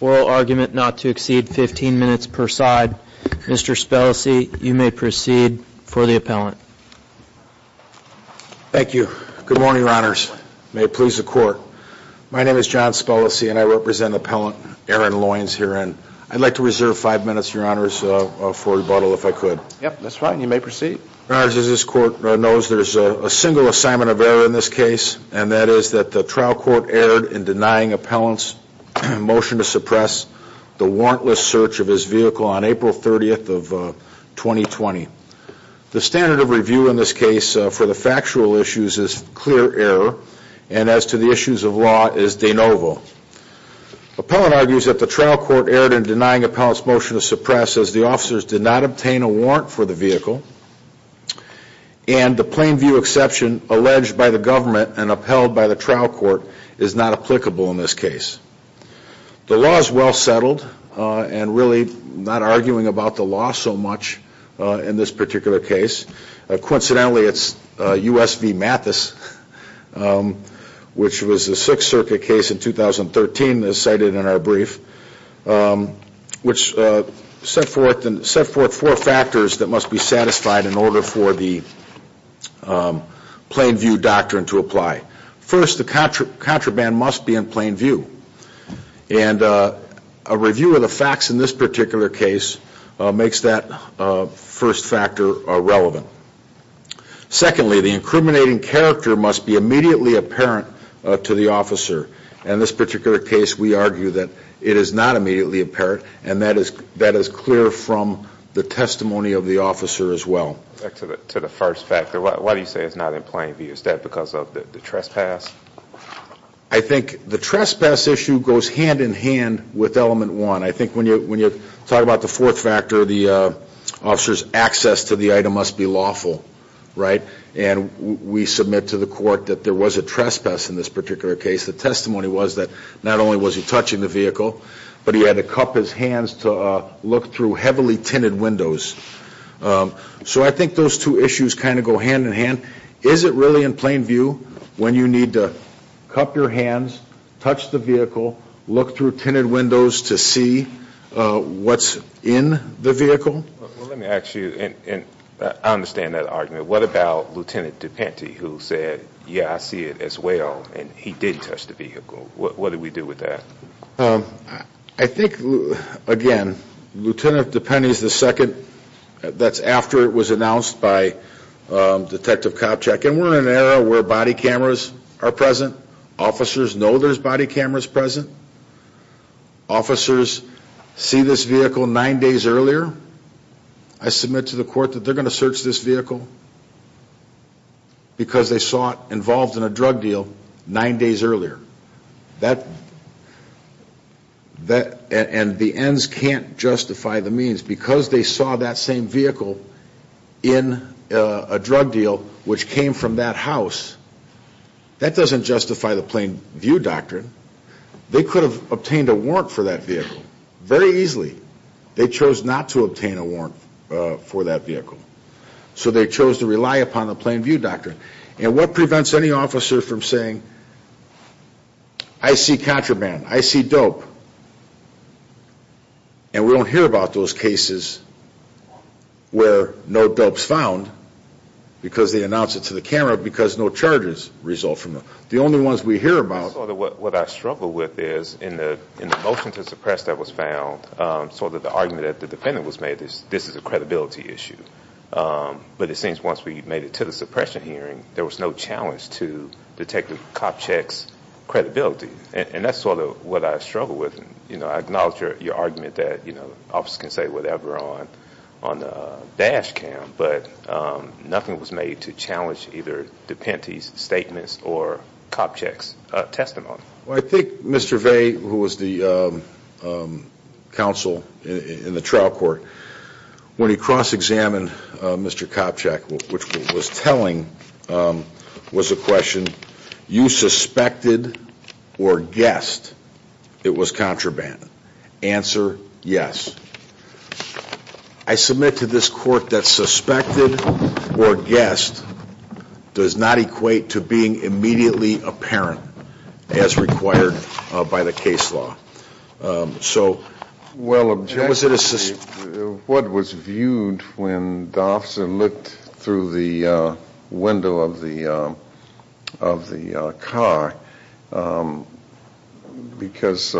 oral argument not to exceed 15 minutes per side. Mr. Spellesey, you may proceed for the appellant. Thank you. Good morning, Your Honors. May it please the Court. My name is John Spellesey and I represent Appellant Aaron Loines herein. I'd like to reserve five minutes, Your Honors, for rebuttal if I could. Yep, that's fine. You may proceed. There's a single assignment of error in this case and that is that the trial court erred in denying appellant's motion to suppress the warrantless search of his vehicle on April 30th of 2020. The standard of review in this case for the factual issues is clear error and as to the issues of law is de novo. Appellant argues that the trial court erred in denying appellant's motion to suppress as the officers did not obtain a warrant for the vehicle and the plain view exception alleged by the government and upheld by the trial court is not applicable in this case. The law is well settled and really not arguing about the law so much in this particular case. Coincidentally, it's U.S. v. Mathis, which was the Sixth Circuit case in 2013 as cited in our brief, which set forth four factors that must be satisfied in order for the plain view doctrine to apply. First, the contraband must be in plain view and a review of the facts in this particular case makes that first factor relevant. Secondly, the incriminating character must be immediately apparent to the officer. In this particular case, we argue that it is not immediately apparent and that is clear from the testimony of the officer as well. Back to the first factor, why do you say it's not in plain view? Is that because of the trespass? I think the trespass issue goes hand in hand with element one. I think when you talk about the fourth factor, the officer's access to the item must be lawful, right? And we submit to the court that there was a trespass in this particular case. The testimony was that not only was he touching the vehicle, but he had to cup his hands to look through heavily tinted windows. So I think those two issues kind of go hand in hand. Is it really in plain view when you need to cup your hands, touch the vehicle, look through tinted windows to see what's in the vehicle? Let me ask you, and I understand that argument, what about Lt. DePenny who said, yeah, I see it as well, and he did touch the vehicle. What do we do with that? I think, again, Lt. DePenny is the second, that's after it was announced by Detective Kopchak. And we're in an era where body cameras are present. Officers know there's body cameras present. Officers see this vehicle nine days earlier. I submit to the court that they're going to search this vehicle because they saw it involved in a drug deal nine days earlier. And the ends can't justify the means. Because they saw that same vehicle in a drug deal which came from that house. That doesn't justify the plain view doctrine. They could have obtained a warrant for that vehicle very easily. They chose not to obtain a warrant for that vehicle. So they chose to rely upon the plain view doctrine. And what prevents any officer from saying, I see contraband, I see dope, and we don't hear about those cases where no dope's actually announced it to the camera because no charges result from it. The only ones we hear about... What I struggle with is, in the motion to suppress that was found, sort of the argument that the defendant was made is, this is a credibility issue. But it seems once we made it to the suppression hearing, there was no challenge to Detective Kopchak's credibility. And that's sort of what I struggle with. I acknowledge your argument that officers can say whatever on the dash cam, but nothing was made to challenge either DePente's statements or Kopchak's testimony. I think Mr. Vey, who was the counsel in the trial court, when he cross-examined Mr. Kopchak, which was telling, was the question, you suspected or guessed it was contraband? Answer, yes. I submit to this court that suspected or guessed does not equate to being immediately apparent as required by the case law. Objectively, what was viewed when the officer looked through the window of the car, because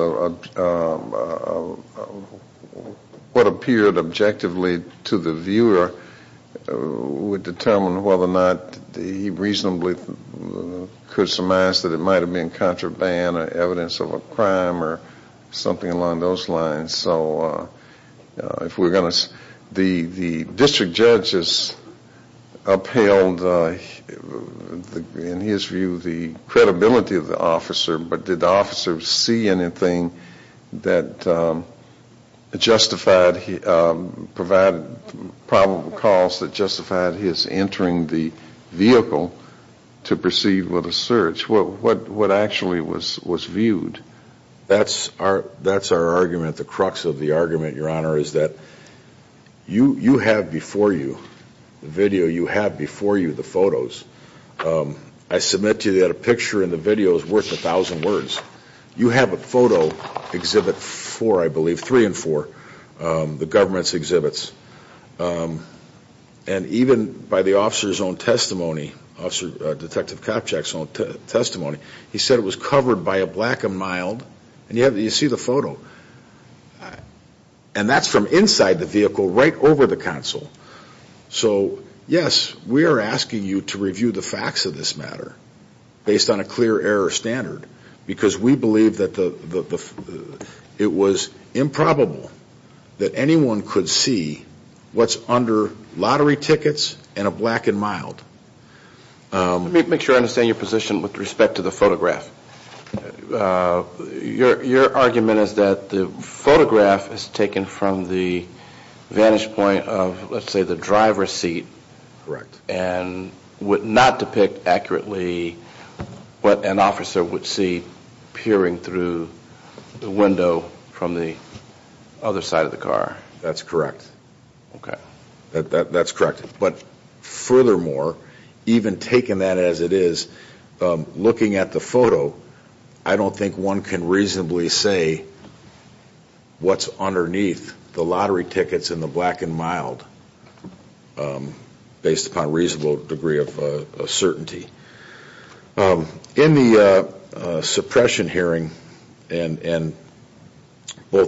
what appeared objectively to the viewer would determine whether or not he reasonably could have guesstimized that it might have been contraband or evidence of a crime or something along those lines. So if we're going to, the district judge has upheld, in his view, the credibility of the officer, but did the officer see anything that justified, provided probable cause, that justified his entering the vehicle to proceed with the search? What actually was viewed? That's our argument. The crux of the argument, Your Honor, is that you have before you, the video you have before you, the photos. I submit to you that a picture and the video is worth a thousand words. You have a photo exhibit four, I believe, three and four, the government's own, and even by the officer's own testimony, Detective Kopchak's own testimony, he said it was covered by a black and mild, and you see the photo, and that's from inside the vehicle right over the console. So, yes, we are asking you to review the facts of this matter based on a clear error standard, because we believe that it was improbable that anyone could see what's under lottery tickets and a black and mild. Let me make sure I understand your position with respect to the photograph. Your argument is that the photograph is taken from the vantage point of, let's say, the driver's seat and would not depict accurately what an officer would see peering through the window from the other side of the car. That's correct. Okay. That's correct. But furthermore, even taking that as it is, looking at the photo, I don't think one can reasonably say what's underneath the lottery tickets and the black and mild, based upon a reasonable degree of certainty. In the suppression hearing, both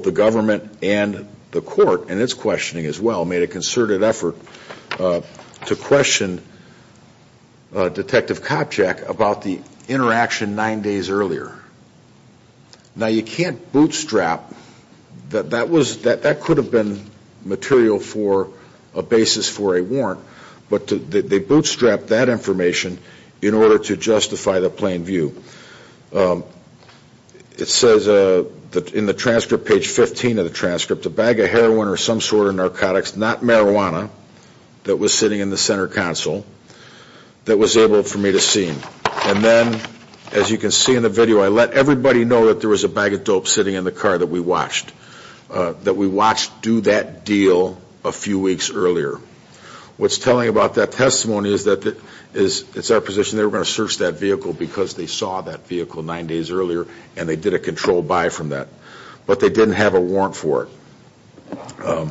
the government and the court, in its questioning as well, made a concerted effort to question Detective Kopchak about the interaction nine days earlier. Now you can't bootstrap, that could have been material for a basis for a warrant, but they did it in order to justify the plain view. It says in the transcript, page 15 of the transcript, a bag of heroin or some sort of narcotics, not marijuana, that was sitting in the center console, that was able for me to see. And then, as you can see in the video, I let everybody know that there was a bag of dope sitting in the car that we watched, that we watched do that deal a few weeks earlier. What's telling about that testimony is that it's our position they were going to search that vehicle because they saw that vehicle nine days earlier and they did a controlled buy from that. But they didn't have a warrant for it.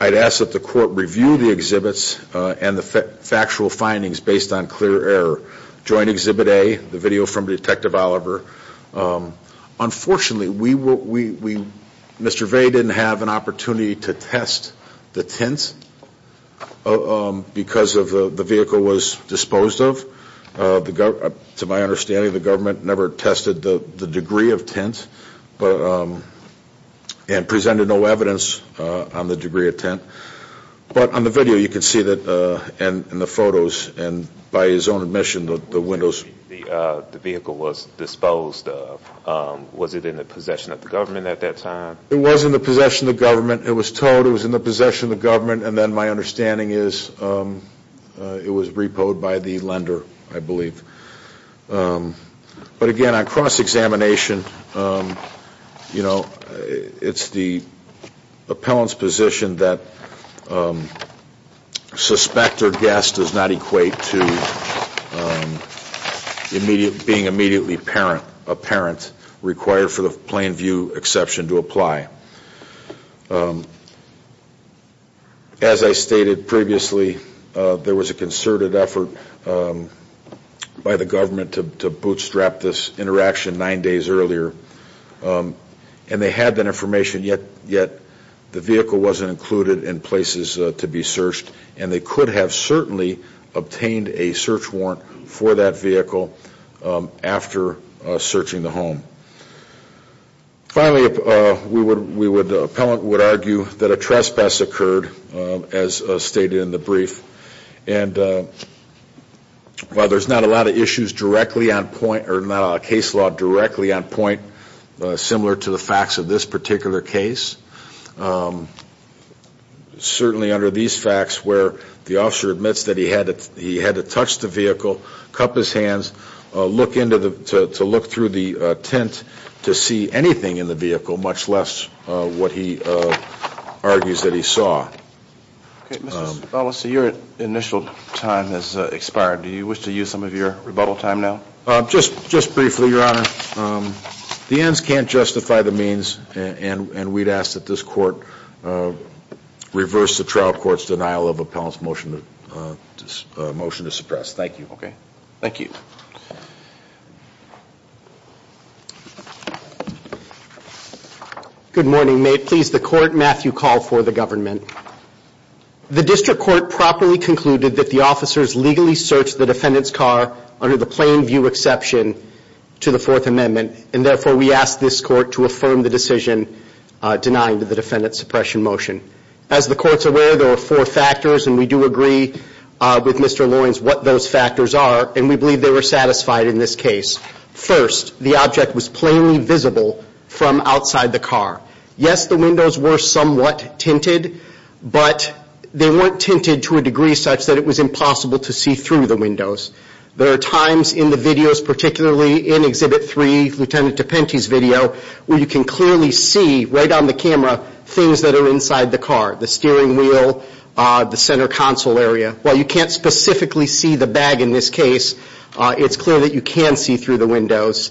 I'd ask that the court review the exhibits and the factual findings based on clear error. Joint Exhibit A, the video from Detective Oliver, unfortunately Mr. Vey didn't have an opportunity to test the tints because the vehicle was disposed of. To my understanding the government never tested the degree of tint and presented no evidence on the degree of tint. But on the video you can see that, and the photos, and by his own admission, the windows. The vehicle was disposed of. Was it in the possession of the government at that time? It was in the possession of the government. It was towed. It was in the possession of the government. And then my understanding is it was repoed by the lender, I believe. But again, on cross-examination, you know, it's the appellant's position that suspect or guess does not equate to being immediately apparent, required for the plain view exception to apply. As I stated previously, there was a concerted effort by the government to bootstrap this interaction nine days earlier. And they had that information, yet the vehicle wasn't included in places to be searched. And they could have certainly obtained a search warrant for that vehicle after searching the home. Finally, we would, the appellant would argue that a trespass occurred, as stated in the brief. And while there's not a lot of issues directly on point, or not a case law directly on point, similar to the facts of this particular case, certainly under these facts where the officer admits that he had to touch the vehicle, cup his hands, look into the, to look through the tent to see anything in the vehicle, much less what he argues that he saw. Okay, Mr. Stabelis, your initial time has expired. Do you wish to use some of your rebuttal time now? Just briefly, Your Honor. The ends can't justify the means, and we'd ask that this court reverse the trial court's denial of appellant's motion to suppress. Thank you. Good morning. May it please the court, Matthew Call for the government. The district court properly concluded that the officers legally searched the defendant's car under the plain view exception to the Fourth Amendment, and therefore we ask this court to affirm the decision denying the defendant's suppression motion. As the court's aware, there are four obvious factors are, and we believe they were satisfied in this case. First, the object was plainly visible from outside the car. Yes, the windows were somewhat tinted, but they weren't tinted to a degree such that it was impossible to see through the windows. There are times in the videos, particularly in Exhibit 3, Lieutenant DePente's video, where you can clearly see, right on the camera, things that are inside the car, the steering bag, in this case, it's clear that you can see through the windows.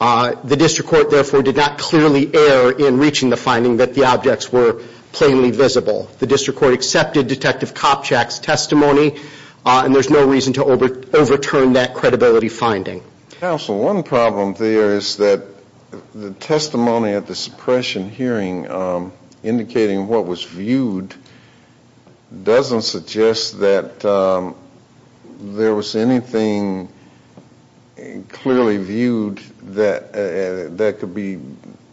The district court, therefore, did not clearly err in reaching the finding that the objects were plainly visible. The district court accepted Detective Kopchak's testimony, and there's no reason to overturn that credibility finding. Counsel, one problem there is that the testimony at the suppression hearing indicating what was viewed doesn't suggest that there was any thing clearly viewed that could be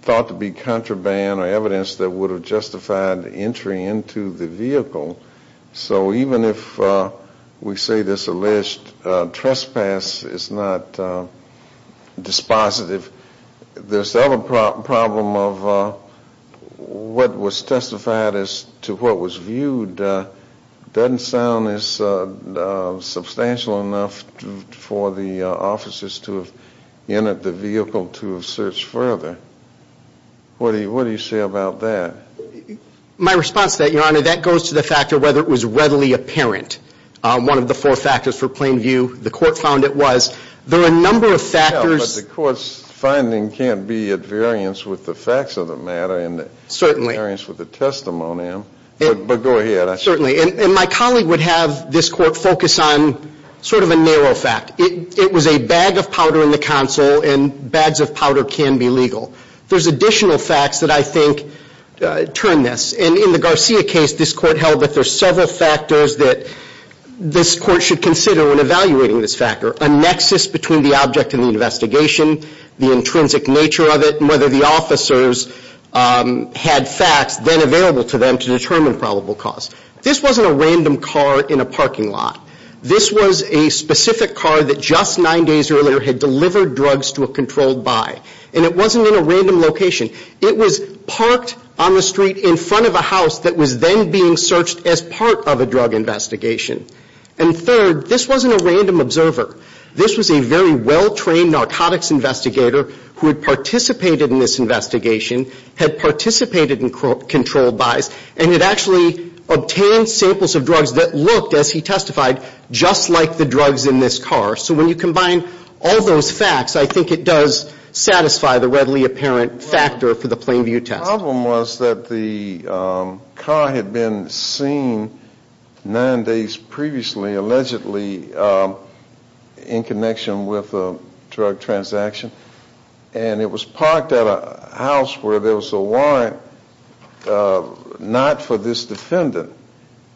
thought to be contraband or evidence that would have justified entry into the vehicle. So even if we say this alleged trespass is not dispositive, this other problem of what was testified as to what was viewed doesn't sound as substantial enough for the officers to have entered the vehicle to have searched further. What do you say about that? My response to that, Your Honor, that goes to the factor of whether it was readily apparent. One of the four factors for plain view, the court found it was. There are a number of factors... But the court's finding can't be at variance with the facts of the matter and at variance with the testimony. But go ahead. Certainly. And my colleague would have this court focus on sort of a narrow fact. It was a bag of powder in the consul, and bags of powder can be legal. There's additional facts that I think turn this. And in the Garcia case, this court held that there's several factors that this court should consider when evaluating this factor. A nexus between the object and the investigation, the intrinsic nature of it, and whether the officers had facts then available to them to determine probable cause. This wasn't a random car in a parking lot. This was a specific car that just nine days earlier had delivered drugs to a controlled buy. And it wasn't in a random location. It was parked on the street in front of a house that was then being searched as part of a drug investigation. And third, this wasn't a random observer. This was a very well-trained narcotics investigator who had participated in this investigation, had actually obtained samples of drugs that looked, as he testified, just like the drugs in this car. So when you combine all those facts, I think it does satisfy the readily apparent factor for the plain view test. The problem was that the car had been seen nine days previously, allegedly, in connection with a drug transaction. And it was parked at a house where there was a warrant not for this defendant.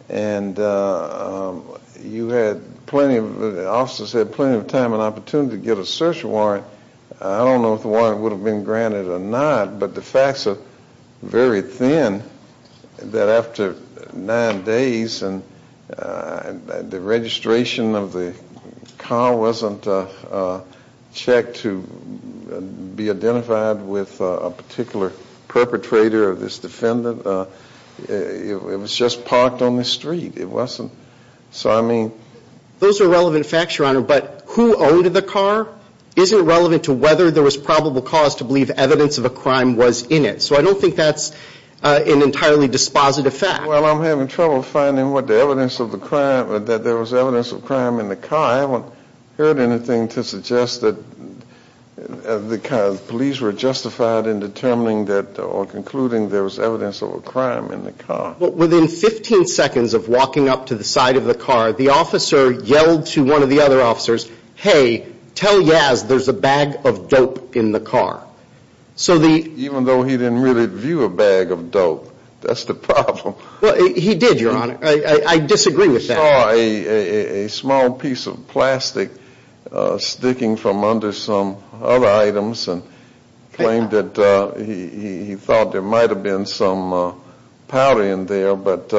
And you had plenty of, the officers had plenty of time and opportunity to get a search warrant. I don't know if the warrant would have been granted or not, but the facts are very thin that after nine days and the registration of the car wasn't checked to be identified with a particular perpetrator or this defendant. It was just parked on the street. It wasn't, so I mean... Those are relevant facts, Your Honor, but who owned the car isn't relevant to whether there was probable cause to believe evidence of a crime was in it. So I don't think that's an entirely dispositive fact. Well, I'm having trouble finding what the evidence of the crime, that there was evidence of crime in the car. I haven't heard anything to suggest that the police were justified in determining that or concluding there was evidence of a crime in the car. But within 15 seconds of walking up to the side of the car, the officer yelled to one of the other officers, hey, tell Yaz there's a bag of dope in the car. So the... Even though he didn't really view a bag of dope. That's the problem. Well, he did, Your Honor. I disagree with that. He saw a small piece of plastic sticking from under some other items and claimed that he thought there might have been some powder in there. But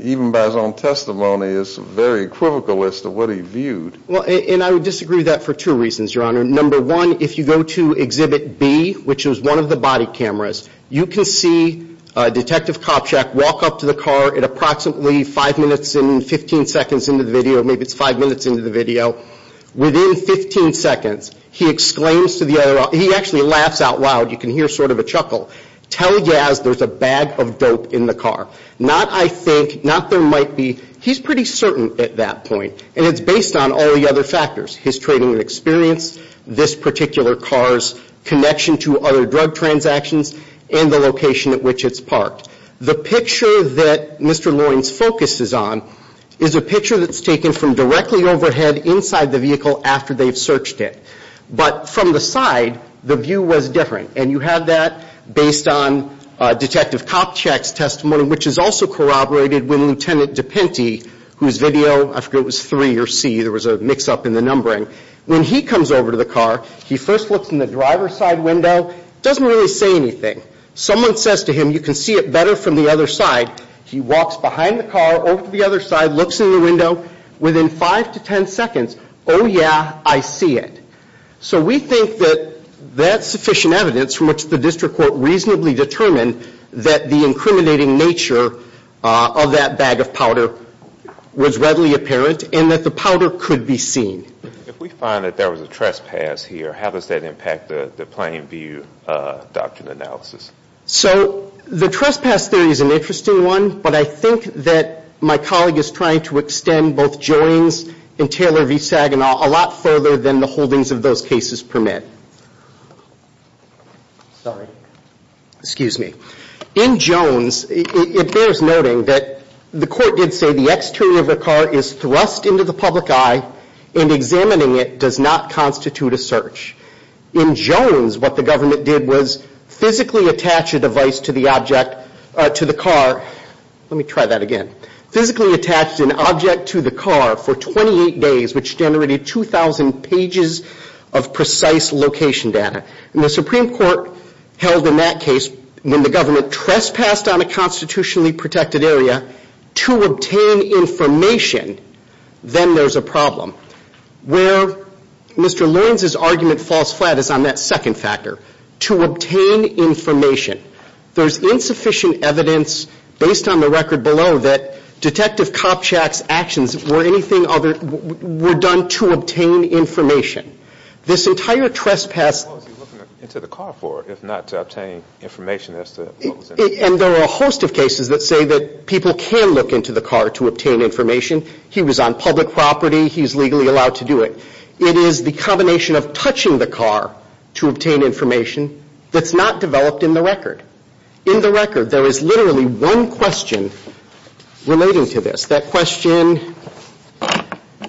even by his own testimony, it's very equivocal as to what he viewed. And I would disagree with that for two reasons, Your Honor. Number one, if you go to Exhibit B, which is one of the body cameras, you can see Detective Kopchak walk up to the car at approximately five minutes and 15 seconds into the video, maybe it's five minutes into the video. Within 15 seconds, he exclaims to the other officers, he actually laughs out loud. You can hear sort of a chuckle. Tell Yaz there's a bag of dope in the car. Not I think, not there might be. He's pretty certain at that point. And it's based on all the other factors, his trading experience, this particular car's connection to other drug transactions, and the location at which it's parked. The picture that Mr. Loyne's focus is on is a picture that's taken from directly overhead inside the vehicle after they've searched it. But from the side, the view was different. And you have that based on Detective Kopchak's testimony, which is also corroborated when Lieutenant DePinty, whose video, I forget if it was three or C, there was a mix-up in the numbering. When he comes over to the car, he first looks in the driver's side window, doesn't really say anything. Someone says to him, you can see it better from the other side. He walks behind the car, over to the other side, looks in the window. Within five to ten seconds, oh yeah, I see it. So we think that that's sufficient evidence from which the district court reasonably determined that the incriminating nature of that bag of powder was readily apparent and that the powder could be seen. If we find that there was a trespass here, how does that impact the Plain View Doctrine analysis? So the trespass theory is an interesting one, but I think that my colleague is trying to extend both Joyne's and Taylor v. Saginaw a lot further than the holdings of those cases permit. Sorry. Excuse me. In Jones, it bears noting that the court did say the exterior of the car is thrust into the public eye and examining it does not constitute a search. In Jones, what the government did was physically attach a device to the object, to the car, let me try that again, physically attached an object to the car for 28 days, which generated 2,000 pages of precise location data. And the Supreme Court held in that case, when the government trespassed on a constitutionally protected area to obtain information, then there's a problem. Where Mr. Lawrence's argument falls flat is on that second factor, to obtain information. There's insufficient evidence based on the record below that Detective Kopchak's actions were anything other, were done to obtain information. This entire trespass. What was he looking into the car for if not to obtain information as to what was in it? And there are a host of cases that say that people can look into the car to obtain information. He was on public property. He's legally allowed to do it. It is the combination of touching the car to obtain information that's not developed in the record. In the record, there is literally one question relating to this. That question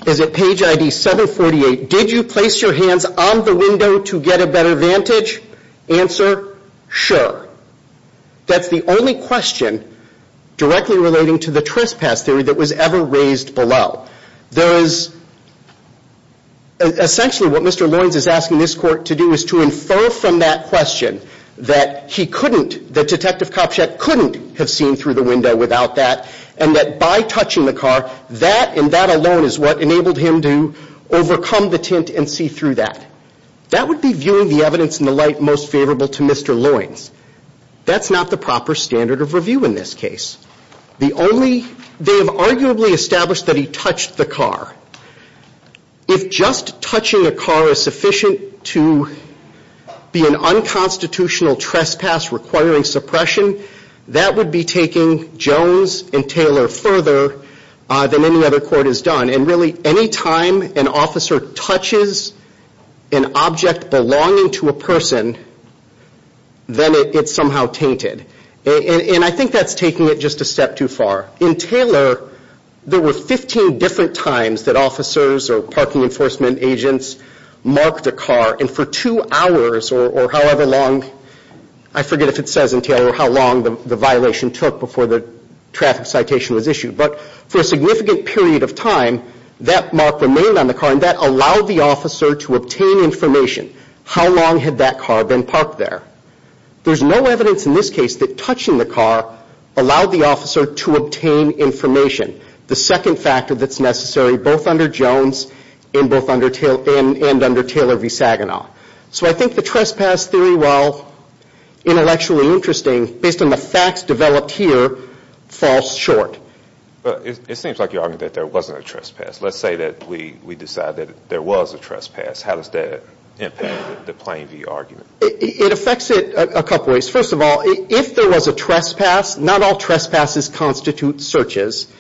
is at page ID 748. Did you place your hands on the window to get a better vantage? Answer, sure. That's the only question directly relating to the trespass theory that was ever raised below. There is, essentially what Mr. Lawrence is asking this court to do is to infer from that question that he couldn't, that Detective Kopchak couldn't have seen through the window without that. And that by touching the car, that and that alone is what enabled him to overcome the tint and see through that. That would be viewing the evidence in the light most favorable to Mr. Lawrence. That's not the proper standard of review in this case. The only, they have arguably established that he touched the car. If just touching a car is sufficient to be an unconstitutional trespass requiring suppression, that would be taking Jones and Taylor further than any other court has done. And really any time an officer touches an object belonging to a person, then it's somehow tainted. And I think that's taking it just a step too far. In Taylor, there were 15 different times that officers or parking enforcement agents marked a car. And for two hours or however long, I forget if it says in Taylor how long the period of time, that mark remained on the car and that allowed the officer to obtain information. How long had that car been parked there? There's no evidence in this case that touching the car allowed the officer to obtain information. The second factor that's necessary both under Jones and both under Taylor and under Taylor v. Saginaw. So I think the trespass theory, while intellectually interesting, based on the facts developed here, falls short. But it seems like you're arguing that there wasn't a trespass. Let's say that we decide that there was a trespass. How does that impact the plain view argument? It affects it a couple ways. First of all, if there was a trespass, not all trespasses constitute searches.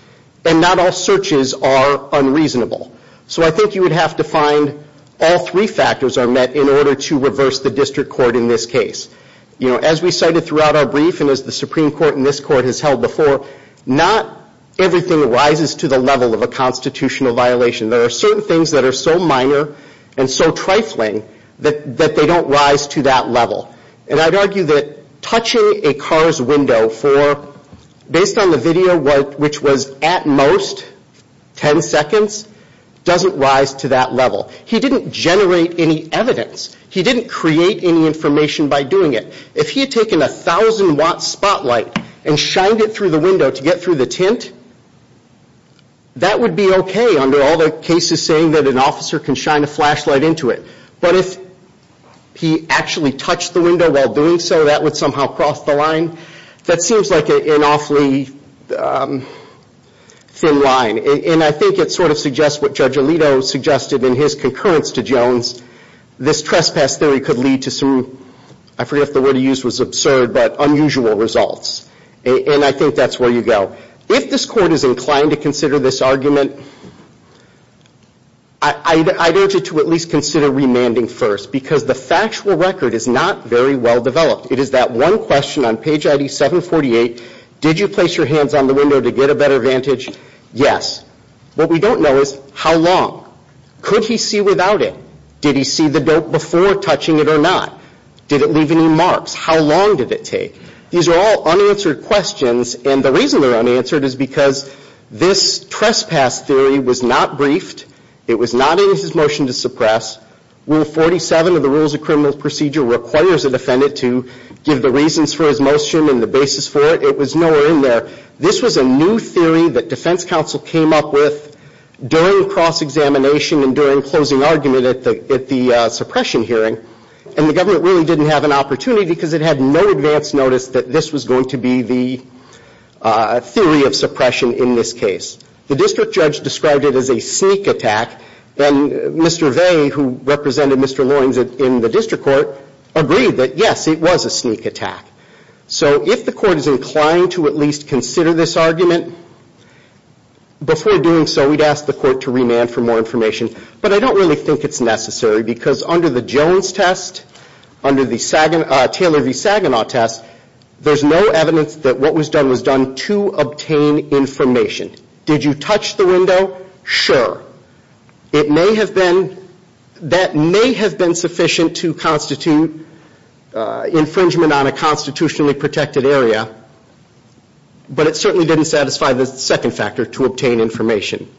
And not all searches are unreasonable. So I think you would have to find all three factors are met in order to reverse the district court in this case. As we cited throughout our brief and as the Supreme Court and this Court has held before, not everything rises to the level of a constitutional violation. There are certain things that are so minor and so trifling that they don't rise to that level. And I'd argue that touching a car's window for, based on the video, which was at most 10 seconds, doesn't rise to that level. He didn't generate any evidence. He didn't create any information by doing it. If he had taken a 1,000 watt spotlight and shined it through the window to get through the tent, that would be okay under all the cases saying that an officer can shine a flashlight into it. But if he actually touched the window while doing so, that would somehow cross the line. That seems like an awfully thin line. And I think it sort of suggests what Judge Alito suggested in his concurrence to Jones. This trespass theory could lead to some, I forget if the word he used was absurd, but unusual results. And I think that's where you go. If this Court is inclined to consider this argument, I'd urge it to at least consider remanding first because the factual record is not very well developed. It is that one question on page ID 748, did you place your hands on the window to get a better vantage? Yes. What we don't know is how long. Could he see without it? Did he see the dope before touching it or not? Did it leave any marks? How long did it take? These are all unanswered questions and the reason they're unanswered is because this trespass theory was not briefed. It was not in his motion to suppress. Rule 47 of the Rules of Criminal Procedure requires a defendant to give the reasons for his motion and the basis for it. It was nowhere in there. This was a new theory that defense counsel came up with during cross-examination and during closing argument at the suppression hearing and the government really didn't have an opportunity because it had no advance notice that this was going to be the theory of suppression in this case. The district judge described it as a sneak attack and Mr. Vey, who represented Mr. Loins in the district court, agreed that yes, it was a sneak attack. So if the Court is inclined to at least consider this argument, before doing so, we'd ask the Court to remand for more information. But I don't really think it's necessary because under the Jones test, under the Taylor v. Saginaw test, there's no evidence that what was done was done to obtain information. Did you touch the window? Sure. It may have been that may have been sufficient to constitute infringement on a constitutionally protected area, but it certainly didn't satisfy the second factor to obtain information.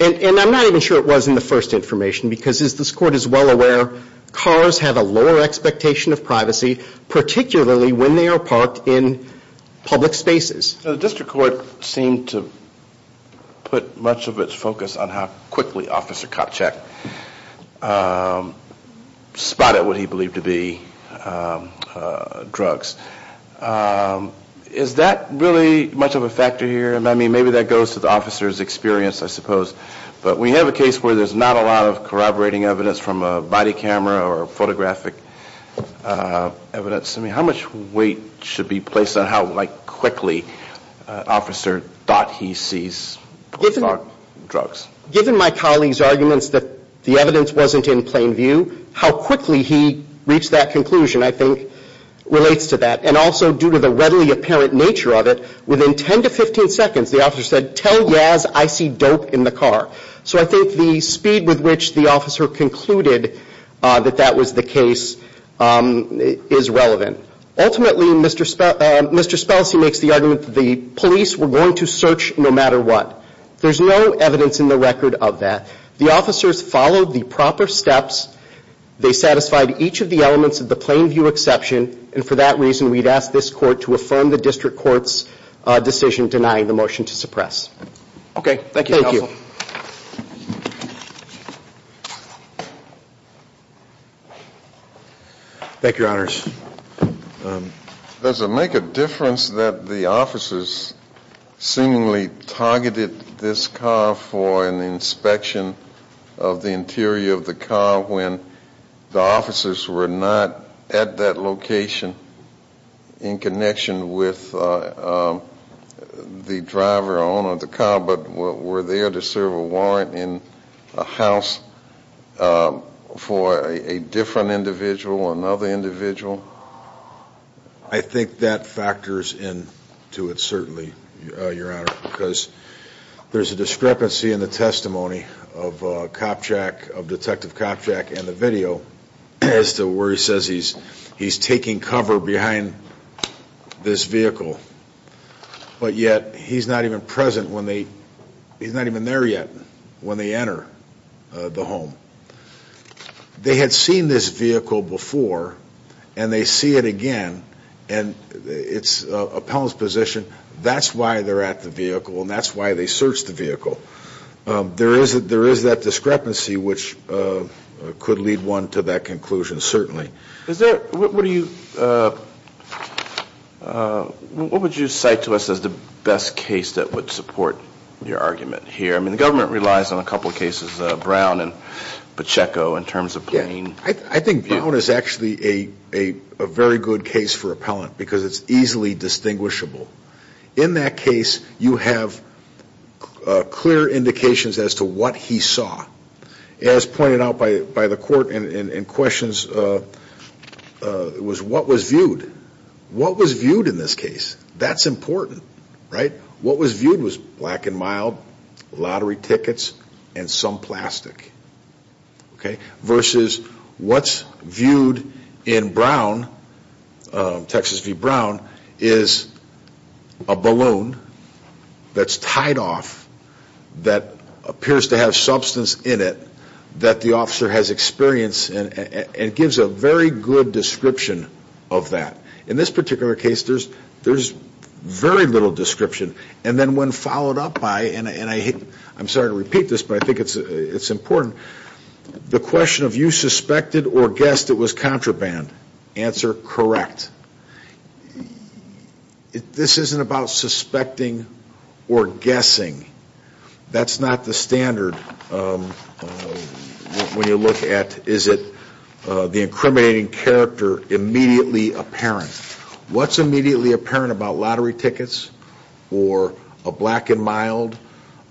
And I'm not even sure it was in the first information because as this Court is well aware, cars have a lower expectation of privacy, particularly when they are parked in public spaces. The district court seemed to put much of its focus on how quickly Officer Kopchak spotted what he believed to be drugs. Is that really much of a factor here? I mean, maybe that goes to the officer's experience, I suppose. But we have a case where there's not a lot of corroborating evidence from a body camera or photographic evidence. I mean, how much weight should be placed on how quickly an officer thought he sees drugs? Given my colleague's the evidence wasn't in plain view, how quickly he reached that conclusion, I think, relates to that. And also due to the readily apparent nature of it, within 10 to 15 seconds the officer said, tell Yaz I see dope in the car. So I think the speed with which the officer concluded that that was the case is relevant. Ultimately, Mr. Spelcy makes the argument that the police were going to search no matter what. There's no evidence in the record of that. The officers followed the proper steps. They satisfied each of the elements of the plain view exception. And for that reason, we'd ask this court to affirm the district court's decision denying the motion to suppress. Okay. Thank you, Counsel. Thank you, Your Honors. Does it make a difference that the officers seemingly targeted this car for an inspection of the interior of the car when the officers were not at that location in connection with the driver or owner of the car, but were there to serve a warrant in a house for a different individual, another individual? I think that factors in to it in the testimony of Detective Kopchak and the video as to where he says he's taking cover behind this vehicle, but yet he's not even present when they, he's not even there yet when they enter the home. They had seen this vehicle before and they see it again and it's a pellent's position. That's why they're at the vehicle and that's why they are there. There is that discrepancy which could lead one to that conclusion, certainly. Is there, what do you, what would you cite to us as the best case that would support your argument here? I mean, the government relies on a couple of cases, Brown and Pacheco in terms of plain view. I think Brown is actually a very good case for a pellent because it's easily distinguishable. In that case, you have clear indications as to what he saw. As pointed out by the court in questions, it was what was viewed. What was viewed in this case? That's important, right? What was viewed was black and mild, lottery tickets and some plastic, okay? Versus what's viewed in Brown, Texas v. Brown as plain view. That is a balloon that's tied off that appears to have substance in it that the officer has experience and gives a very good description of that. In this particular case, there's very little description and then when followed up by, and I'm sorry to repeat this but I think it's important, the question of you suspected or guessed it was contraband. Answer correct. This isn't about suspecting or guessing. That's not the standard when you look at is it the incriminating character immediately apparent. What's immediately apparent about lottery tickets or a black and mild?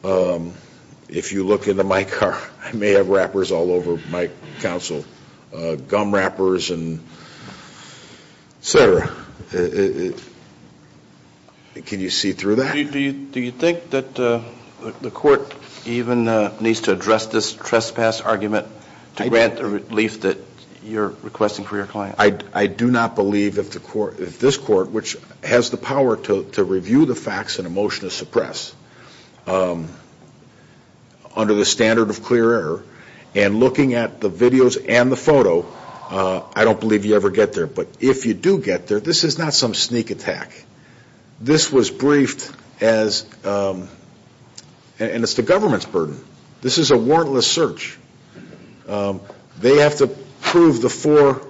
If you look in the mic, I may have wrappers all over my counsel, gum wrappers, etc. Can you see through that? Do you think that the court even needs to address this trespass argument to grant the relief that you're requesting for your client? I do not believe if this court, which has the power to review the facts and emotion to suppress under the standard of clear error and looking at the videos and the photo, I don't believe you ever get there. But if you do get there, this is not some sneak attack. This was briefed as, and it's the government's burden. This is a warrantless search. They have to prove the four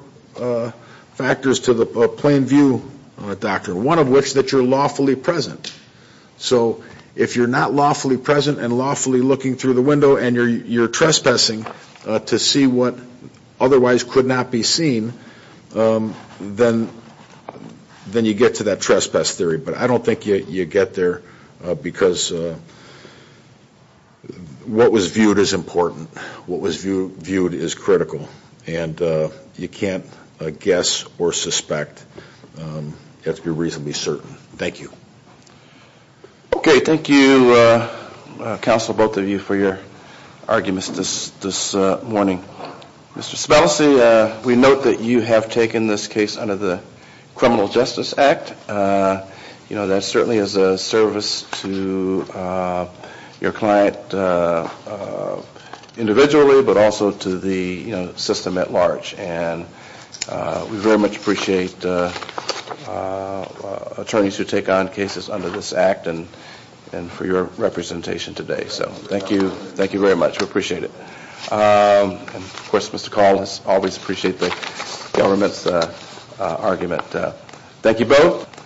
factors to the plain view doctrine, one of which that you're lawfully present. So if you're not lawfully present and lawfully looking through the window and you're trespassing to see what otherwise could not be seen, then you get to that trespass theory. But I don't think you get there because what was viewed is important. What was viewed is critical. And you can't guess or suspect. You have to be reasonably certain. Thank you. Okay. Thank you, counsel, both of you, for your arguments this morning. Mr. Sabalasi, we note that you have taken this case under the Criminal Justice Act. You know, that certainly is a service to your client individually, but also to the system at large. And we very much appreciate attorneys who take on cases under this Act and for your representation today. So thank you. Thank you very much. We appreciate it. And of course, Mr. Call has always appreciated the government's argument. Thank you both.